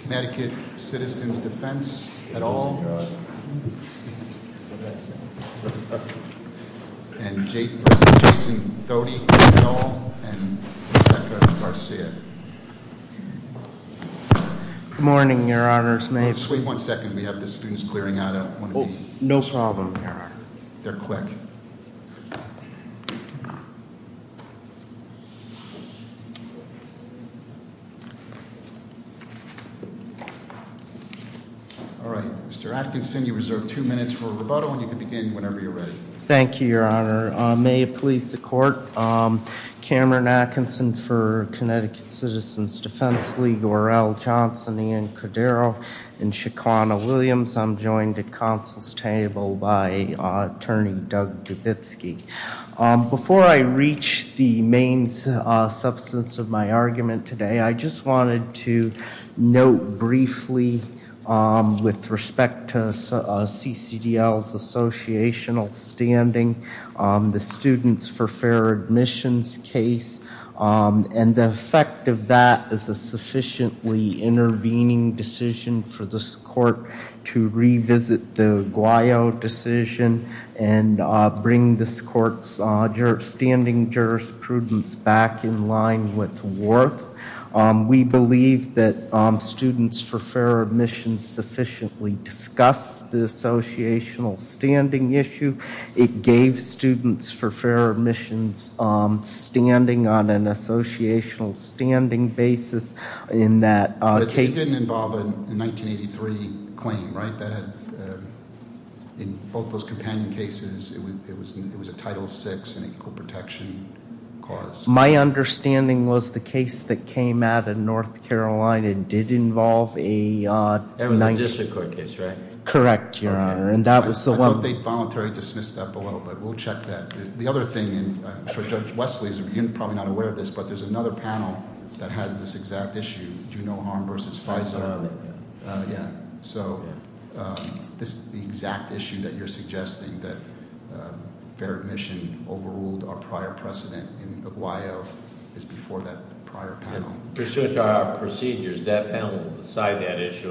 Connecticut Citizens Defense, et al., and Jason Thody, et al., and Rebecca Garcia. Good morning, Your Honors. May I... Just wait one second. We have the students clearing out. No problem, Your Honor. They're quick. All right. Mr. Atkinson, you reserve two minutes for rebuttal, and you can begin whenever you're ready. Thank you, Your Honor. May it please the Court, Cameron Atkinson for Connecticut Citizens Defense League, or L. Johnson, Ian Cordero, and Shaquanna Williams. I'm joined at counsel's table by Attorney Doug Dubitsky. Before I reach the main substance of my argument today, I just wanted to note briefly with respect to CCDL's associational standing, the Students for Fair Admissions case, and the effect of that is a sufficiently intervening decision for this Court to revisit the Guayo decision and bring this Court's standing jurisprudence back in line with Worth. We believe that Students for Fair Admissions sufficiently discussed the associational standing issue. It gave Students for Fair Admissions standing on an associational standing basis in that case. But it didn't involve a 1983 claim, right? That had, in both those companion cases, it was a Title VI and equal protection cause. My understanding was the case that came out of North Carolina did involve a... That was a district court case, right? Correct, Your Honor. Okay. I thought they voluntarily dismissed that below, but we'll check that. The other thing, and I'm sure Judge Wesley is probably not aware of this, but there's another panel that has this exact issue, do no harm versus FISA. Yeah. So, this exact issue that you're suggesting, that fair admission overruled our prior precedent in Guayo, is before that prior panel. Pursuant to our procedures, that panel will decide that issue,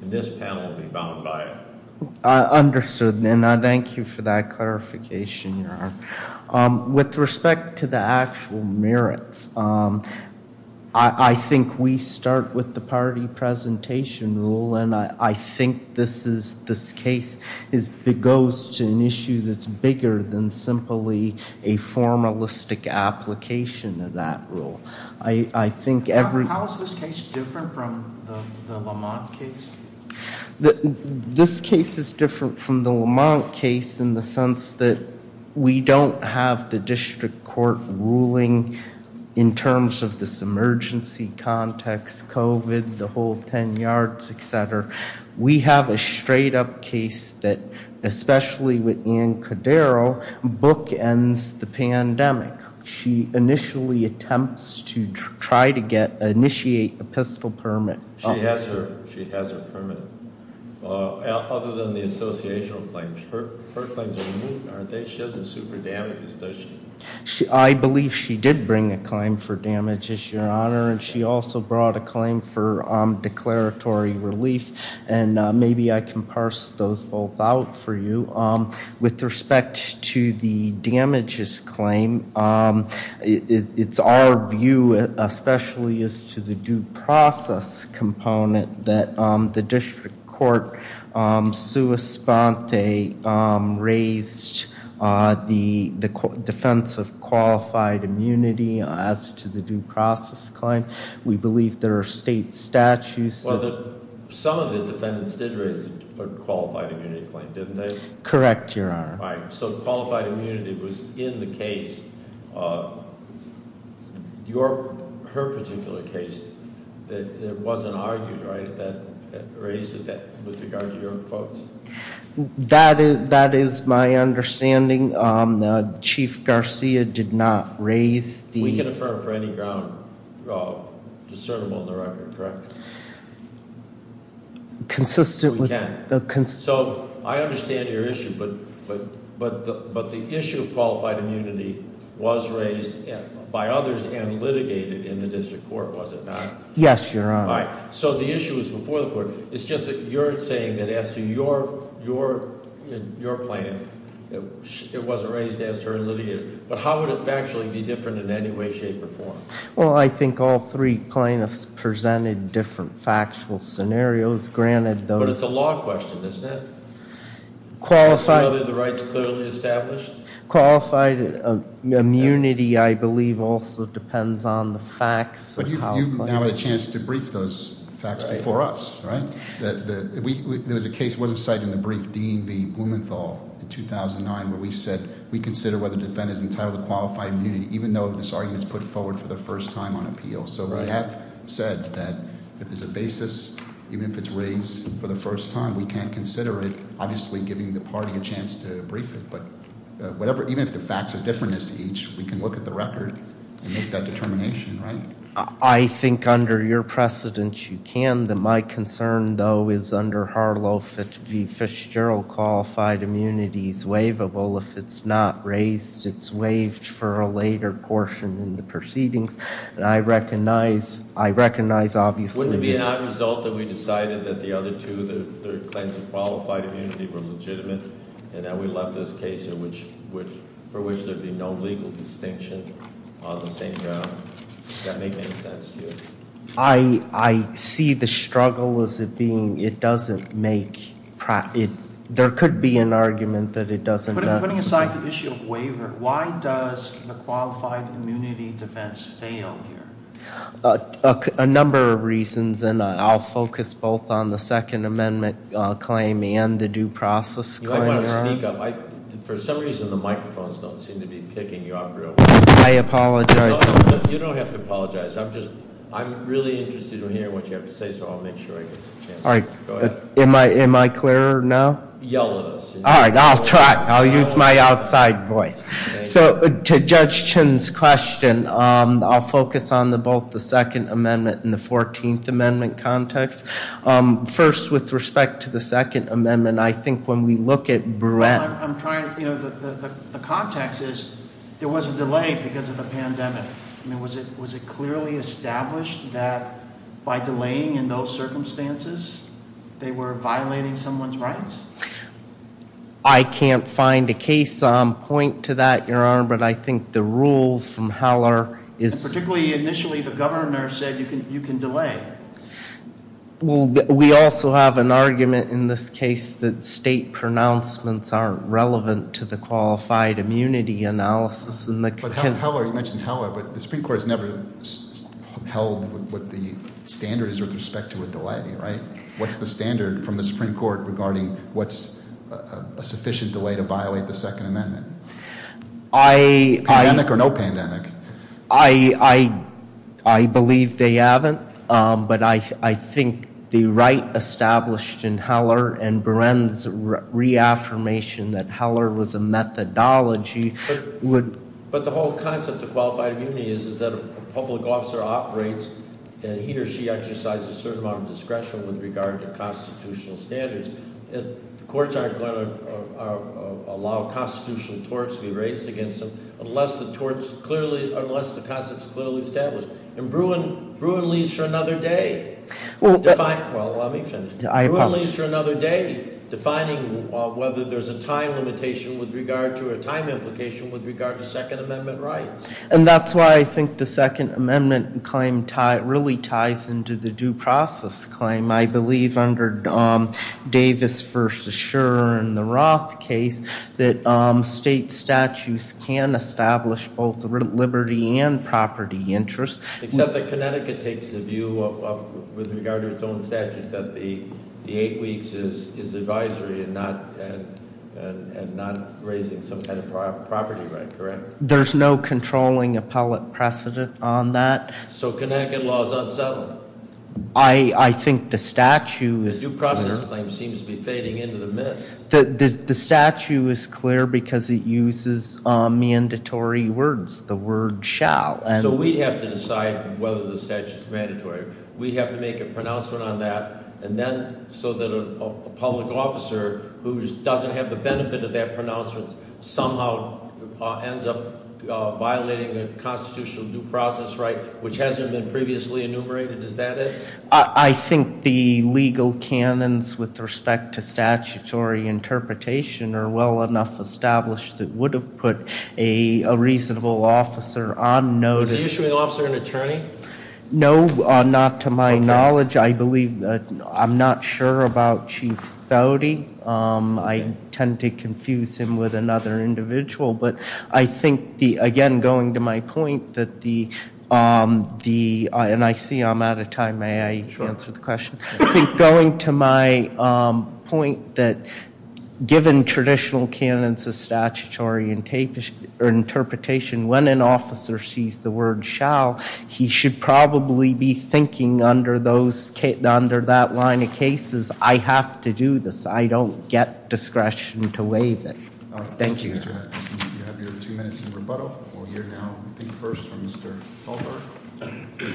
and this panel will be bound by it. Understood, and I thank you for that clarification, Your Honor. With respect to the actual merits, I think we start with the party presentation rule, and I think this case goes to an issue that's bigger than simply a formalistic application of that rule. I think every... How is this case different from the Lamont case? This case is different from the Lamont case in the sense that we don't have the district court ruling in terms of this emergency context, COVID, the whole 10 yards, etc. We have a straight-up case that, especially with Ann Codero, bookends the pandemic. She initially attempts to try to get... initiate a pistol permit. She has her permit, other than the associational claims. Her claims are moot, aren't they? She doesn't sue for damages, does she? I believe she did bring a claim for damages, Your Honor, and she also brought a claim for declaratory relief, and maybe I can parse those both out for you. With respect to the damages claim, it's our view, especially as to the due process component, that the district court sua sponte raised the defense of qualified immunity as to the due process claim. We believe there are state statutes that... Correct, Your Honor. All right, so qualified immunity was in the case. Your... her particular case, it wasn't argued, right, that it raises that with regard to your folks? That is my understanding. Chief Garcia did not raise the... We can affirm for any ground discernible in the record, correct? Consistent with... We can. So I understand your issue, but the issue of qualified immunity was raised by others and litigated in the district court, was it not? Yes, Your Honor. All right, so the issue was before the court. It's just that you're saying that as to your plaintiff, it wasn't raised as to her and litigated. But how would it factually be different in any way, shape, or form? Well, I think all three plaintiffs presented different factual scenarios. But it's a law question, isn't it? Qualified... Whether the rights are clearly established? Qualified immunity, I believe, also depends on the facts. But you've now had a chance to brief those facts before us, right? There was a case, it wasn't cited in the brief, Dean v. Blumenthal in 2009, where we said we consider whether the defendant is entitled to qualified immunity, even though this argument is put forward for the first time on appeal. So we have said that if there's a basis, even if it's raised for the first time, we can consider it, obviously giving the party a chance to brief it. But whatever, even if the facts are different as to each, we can look at the record and make that determination, right? I think under your precedence, you can. My concern, though, is under Harlow v. Fitzgerald, qualified immunity is waivable. If it's not raised, it's waived for a later portion in the proceedings. And I recognize, obviously... Wouldn't it be an odd result that we decided that the other two, the claims of qualified immunity, were legitimate and that we left this case for which there'd be no legal distinction on the same ground? Does that make any sense to you? I see the struggle as it being it doesn't make... There could be an argument that it doesn't... Putting aside the issue of waiver, why does the qualified immunity defense fail here? A number of reasons, and I'll focus both on the Second Amendment claim and the due process claim. You might want to speak up. For some reason, the microphones don't seem to be picking you up real well. I apologize. You don't have to apologize. I'm really interested to hear what you have to say, so I'll make sure I get the chance. Am I clearer now? Yell at us. All right, I'll try. I'll use my outside voice. So to Judge Chin's question, I'll focus on both the Second Amendment and the Fourteenth Amendment context. First, with respect to the Second Amendment, I think when we look at Bren... The context is there was a delay because of the pandemic. Was it clearly established that by delaying in those circumstances, they were violating someone's rights? I can't find a case on point to that, Your Honor, but I think the rules from Haller is... Particularly, initially, the governor said you can delay. We also have an argument in this case that state pronouncements aren't relevant to the qualified immunity analysis. You mentioned Haller, but the Supreme Court has never held what the standard is with respect to a delay, right? What's the standard from the Supreme Court regarding what's a sufficient delay to violate the Second Amendment? Pandemic or no pandemic? I believe they haven't, but I think the right established in Haller and Bren's reaffirmation that Haller was a methodology would... But the whole concept of qualified immunity is that a public officer operates and he or she exercises a certain amount of discretion with regard to constitutional standards. The courts aren't going to allow constitutional torts to be raised against them unless the concept is clearly established. And Bruin leads for another day. Well, let me finish. Bruin leads for another day defining whether there's a time limitation with regard to or a time implication with regard to Second Amendment rights. And that's why I think the Second Amendment claim really ties into the due process claim. I believe under Davis v. Shurer and the Roth case that state statutes can establish both liberty and property interest. Except that Connecticut takes the view with regard to its own statute that the eight weeks is advisory and not raising some kind of property right, correct? There's no controlling appellate precedent on that. So Connecticut law is unsettling? I think the statute is- The due process claim seems to be fading into the mist. The statute is clear because it uses mandatory words, the word shall. So we'd have to decide whether the statute's mandatory. We'd have to make a pronouncement on that. And then so that a public officer who doesn't have the benefit of that pronouncement somehow ends up violating a constitutional due process right, which hasn't been previously enumerated. Does that it? I think the legal canons with respect to statutory interpretation are well enough established that would have put a reasonable officer on notice. Is the issuing officer an attorney? No, not to my knowledge. I believe- I'm not sure about Chief Thode. I tend to confuse him with another individual. But I think, again, going to my point that the- and I see I'm out of time. May I answer the question? I think going to my point that given traditional canons of statutory interpretation, when an officer sees the word shall, he should probably be thinking under those- under that line of cases, I have to do this. I don't get discretion to waive it. Thank you. You have your two minutes in rebuttal. We'll hear now, I think, first from Mr. Talberg.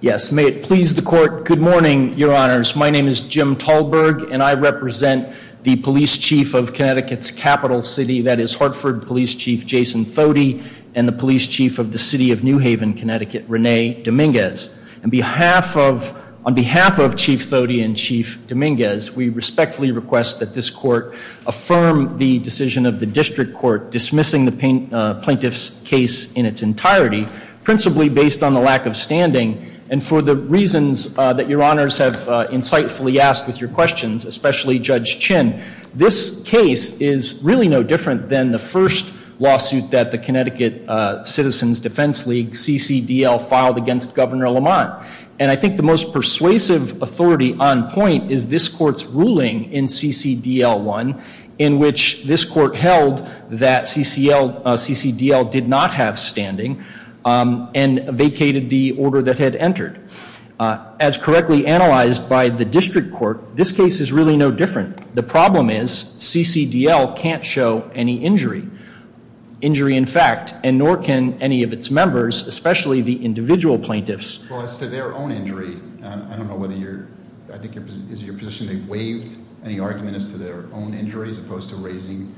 Yes, may it please the Court. Good morning, Your Honors. My name is Jim Talberg, and I represent the Police Chief of Connecticut's capital city, that is Hartford Police Chief Jason Thode, and the Police Chief of the City of New Haven, Connecticut, Renee Dominguez. On behalf of Chief Thode and Chief Dominguez, we respectfully request that this Court affirm the decision of the District Court dismissing the plaintiff's case in its entirety, principally based on the lack of standing, and for the reasons that Your Honors have insightfully asked with your questions, especially Judge Chin. This case is really no different than the first lawsuit that the Connecticut Citizens Defense League, CCDL, filed against Governor Lamont. And I think the most persuasive authority on point is this Court's ruling in CCDL 1 in which this Court held that CCDL did not have standing and vacated the order that had entered. As correctly analyzed by the District Court, this case is really no different. The problem is CCDL can't show any injury. Injury in fact, and nor can any of its members, especially the individual plaintiffs. Well, as to their own injury, I don't know whether you're, I think it's your position they've waived any argument as to their own injury as opposed to raising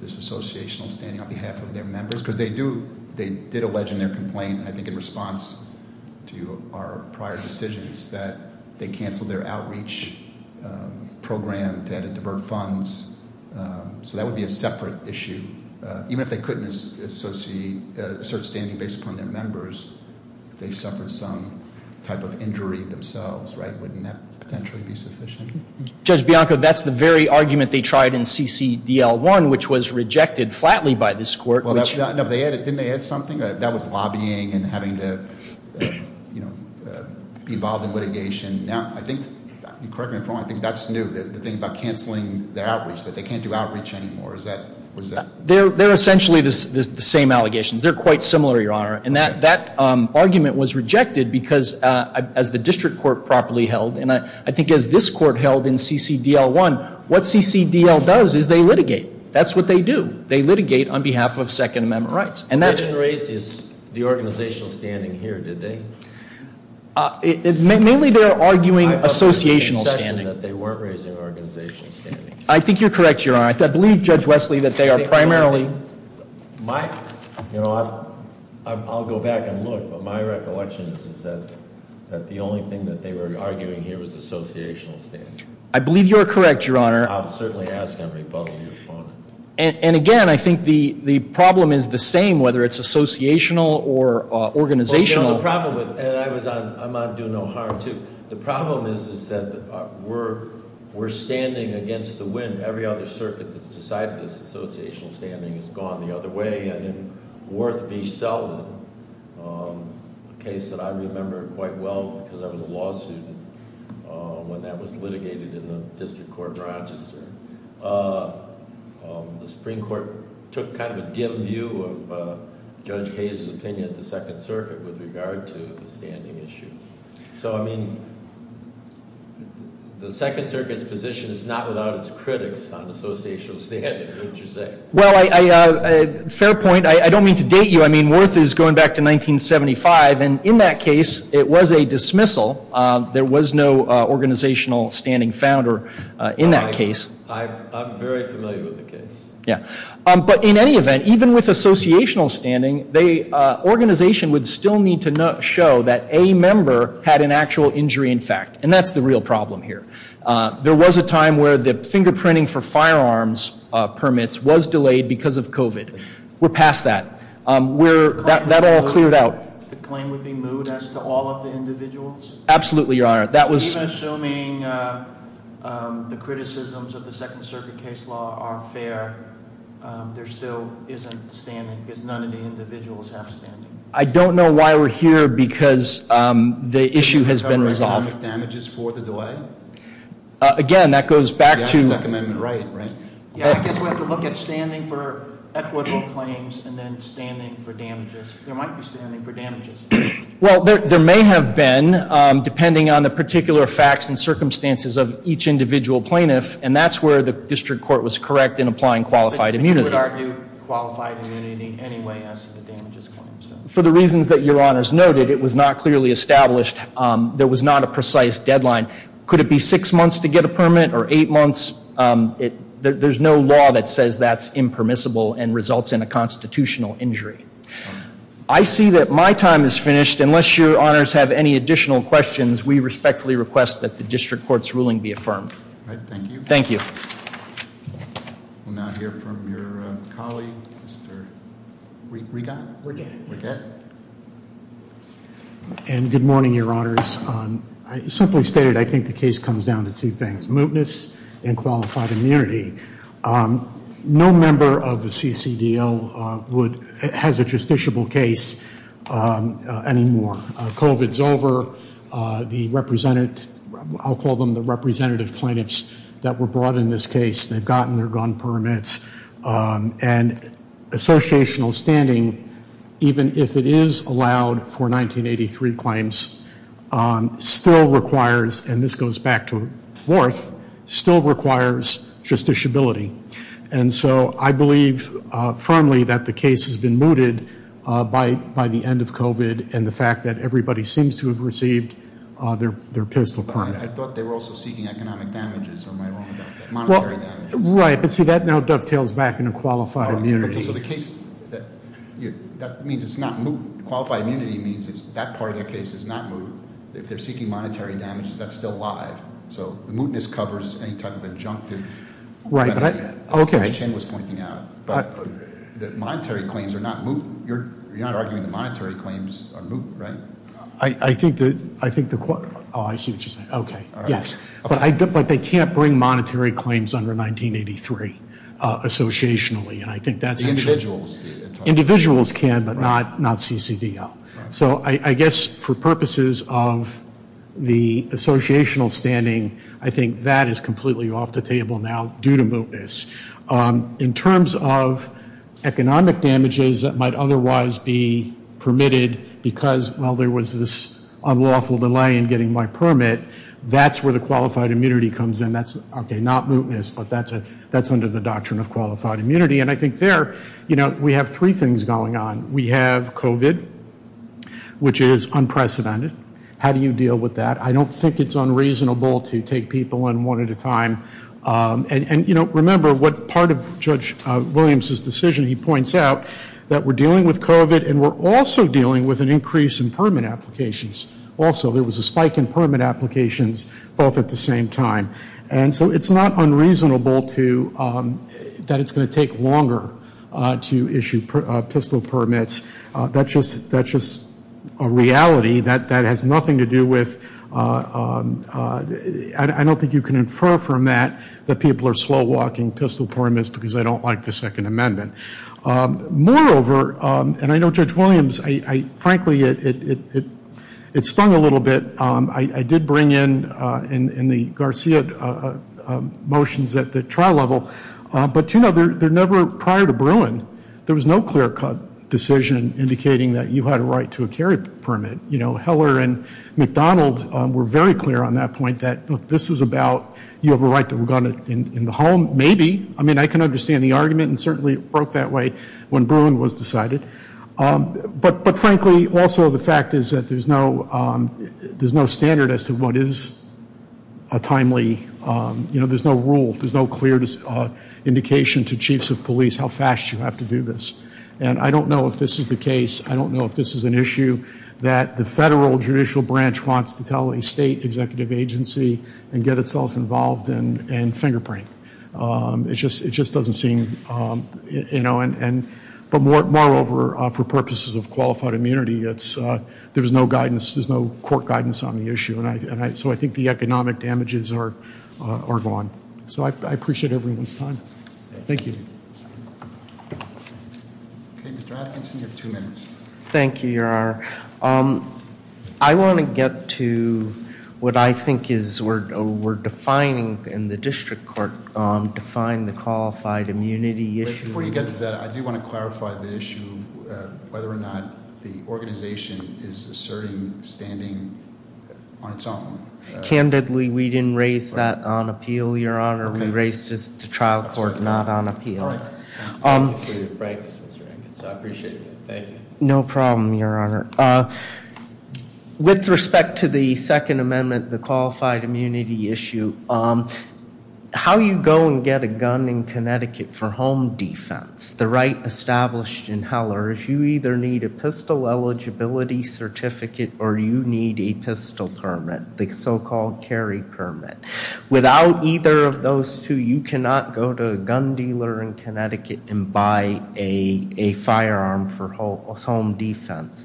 this associational standing on behalf of their members. Because they do, they did allege in their complaint, I think in response to our prior decisions, that they canceled their outreach program to divert funds. So that would be a separate issue. Even if they couldn't assert standing based upon their members, they suffered some type of injury themselves, right? Wouldn't that potentially be sufficient? Judge Bianco, that's the very argument they tried in CCDL 1, which was rejected flatly by this court. Didn't they add something? That was lobbying and having to be involved in litigation. Now, I think, correct me if I'm wrong, I think that's new. The thing about canceling their outreach, that they can't do outreach anymore, was that- They're essentially the same allegations. They're quite similar, Your Honor. And that argument was rejected because as the district court properly held, and I think as this court held in CCDL 1, what CCDL does is they litigate. That's what they do. They litigate on behalf of Second Amendment rights. They didn't raise the organizational standing here, did they? Mainly they're arguing associational standing. That they weren't raising organizational standing. I think you're correct, Your Honor. I believe, Judge Wesley, that they are primarily- I'll go back and look, but my recollection is that the only thing that they were arguing here was associational standing. I believe you're correct, Your Honor. I'll certainly ask and rebuttal your opponent. And again, I think the problem is the same, whether it's associational or organizational. I'm on do no harm, too. The problem is that we're standing against the wind. Every other circuit that's decided this associational standing has gone the other way. And in Worth v. Selden, a case that I remember quite well because I was a law student when that was litigated in the District Court of Rochester, the Supreme Court took kind of a dim view of Judge Hayes' opinion of the Second Circuit with regard to the standing issue. So, I mean, the Second Circuit's position is not without its critics on associational standing, wouldn't you say? Well, fair point. I don't mean to date you. I mean, Worth is going back to 1975. And in that case, it was a dismissal. There was no organizational standing found in that case. I'm very familiar with the case. Yeah. But in any event, even with associational standing, the organization would still need to show that a member had an actual injury in fact. And that's the real problem here. There was a time where the fingerprinting for firearms permits was delayed because of COVID. We're past that. That all cleared out. Absolutely, Your Honor. Even assuming the criticisms of the Second Circuit case law are fair, there still isn't standing because none of the individuals have standing. I don't know why we're here because the issue has been resolved. Government damages for the delay? Again, that goes back to- Second Amendment right, right? Yeah, I guess we have to look at standing for equitable claims and then standing for damages. There might be standing for damages. Well, there may have been, depending on the particular facts and circumstances of each individual plaintiff. And that's where the district court was correct in applying qualified immunity. But you would argue qualified immunity anyway as to the damages claim. For the reasons that Your Honor's noted, it was not clearly established. There was not a precise deadline. Could it be six months to get a permit or eight months? There's no law that says that's impermissible and results in a constitutional injury. I see that my time is finished. Unless Your Honors have any additional questions, we respectfully request that the district court's ruling be affirmed. All right, thank you. Thank you. We'll now hear from your colleague, Mr. Rigat? Rigat. Rigat. And good morning, Your Honors. I simply stated I think the case comes down to two things, mootness and qualified immunity. No member of the CCDL has a justiciable case anymore. COVID's over. I'll call them the representative plaintiffs that were brought in this case. They've gotten their gun permits. And associational standing, even if it is allowed for 1983 claims, still requires, and this goes back to Worth, still requires justiciability. And so I believe firmly that the case has been mooted by the end of COVID and the fact that everybody seems to have received their pistol permit. I thought they were also seeking economic damages. Am I wrong about that? Monetary damages. Right, but see, that now dovetails back into qualified immunity. So the case, that means it's not moot. Qualified immunity means that part of their case is not moot. If they're seeking monetary damages, that's still live. So the mootness covers any type of injunctive. Right, but I, okay. As Chen was pointing out. But the monetary claims are not moot. You're not arguing the monetary claims are moot, right? I think the, oh, I see what you're saying. Okay, yes. But they can't bring monetary claims under 1983, associationally, and I think that's. Individuals. Individuals can, but not CCDL. So I guess for purposes of the associational standing, I think that is completely off the table now due to mootness. In terms of economic damages that might otherwise be permitted because, well, there was this unlawful delay in getting my permit, that's where the qualified immunity comes in. That's, okay, not mootness, but that's under the doctrine of qualified immunity. And I think there, you know, we have three things going on. We have COVID, which is unprecedented. How do you deal with that? I don't think it's unreasonable to take people in one at a time. And, you know, remember what part of Judge Williams' decision he points out, that we're dealing with COVID and we're also dealing with an increase in permit applications. Also, there was a spike in permit applications both at the same time. And so it's not unreasonable to, that it's going to take longer to issue pistol permits. That's just a reality that has nothing to do with, I don't think you can infer from that, that people are slow walking pistol permits because they don't like the Second Amendment. Moreover, and I know Judge Williams, frankly, it stung a little bit. I did bring in the Garcia motions at the trial level. But, you know, they're never prior to Bruin. There was no clear cut decision indicating that you had a right to a carry permit. You know, Heller and McDonald were very clear on that point that this is about, you have a right to a gun in the home, maybe. I mean, I can understand the argument and certainly it broke that way when Bruin was decided. But, frankly, also the fact is that there's no standard as to what is a timely, you know, there's no rule, there's no clear indication to chiefs of police how fast you have to do this. And I don't know if this is the case. I don't know if this is an issue that the federal judicial branch wants to tell a state executive agency and get itself involved in fingerprinting. It just doesn't seem, you know, but moreover, for purposes of qualified immunity, there's no guidance, there's no court guidance on the issue. And so I think the economic damages are gone. So I appreciate everyone's time. Thank you. Okay, Mr. Atkinson, you have two minutes. Thank you, Your Honor. I want to get to what I think is we're defining in the district court, define the qualified immunity issue. Before you get to that, I do want to clarify the issue, whether or not the organization is asserting standing on its own. Candidly, we didn't raise that on appeal, Your Honor. We raised it to trial court, not on appeal. Thank you for your frankness, Mr. Atkinson. I appreciate it. Thank you. No problem, Your Honor. With respect to the Second Amendment, the qualified immunity issue, how you go and get a gun in Connecticut for home defense, the right established in Heller, is you either need a pistol eligibility certificate or you need a pistol permit, the so-called carry permit. Without either of those two, you cannot go to a gun dealer in Connecticut and buy a firearm for home defense.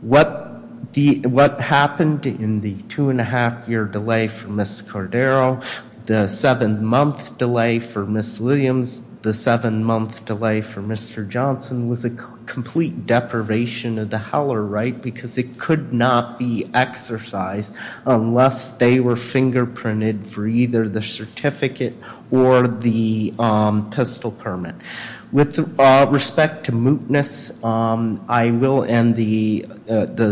What happened in the two-and-a-half-year delay for Ms. Cordero, the seven-month delay for Ms. Williams, the seven-month delay for Mr. Johnson was a complete deprivation of the Heller right because it could not be exercised unless they were fingerprinted for either the certificate or the pistol permit. With respect to mootness, I will end the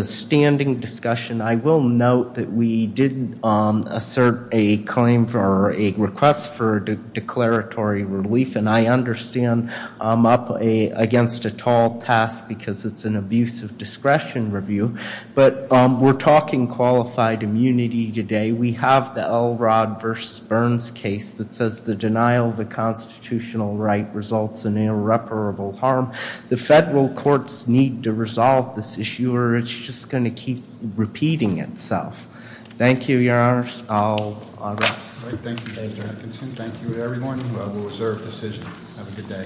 standing discussion. I will note that we did assert a claim for a request for declaratory relief, and I understand I'm up against a tall task because it's an abuse of discretion review, but we're talking qualified immunity today. We have the Elrod v. Burns case that says the denial of a constitutional right results in irreparable harm. The federal courts need to resolve this issue or it's just going to keep repeating itself. Thank you, Your Honors. I'll arrest. Thank you, Mr. Atkinson. Thank you, everyone. We'll reserve decision. Have a good day.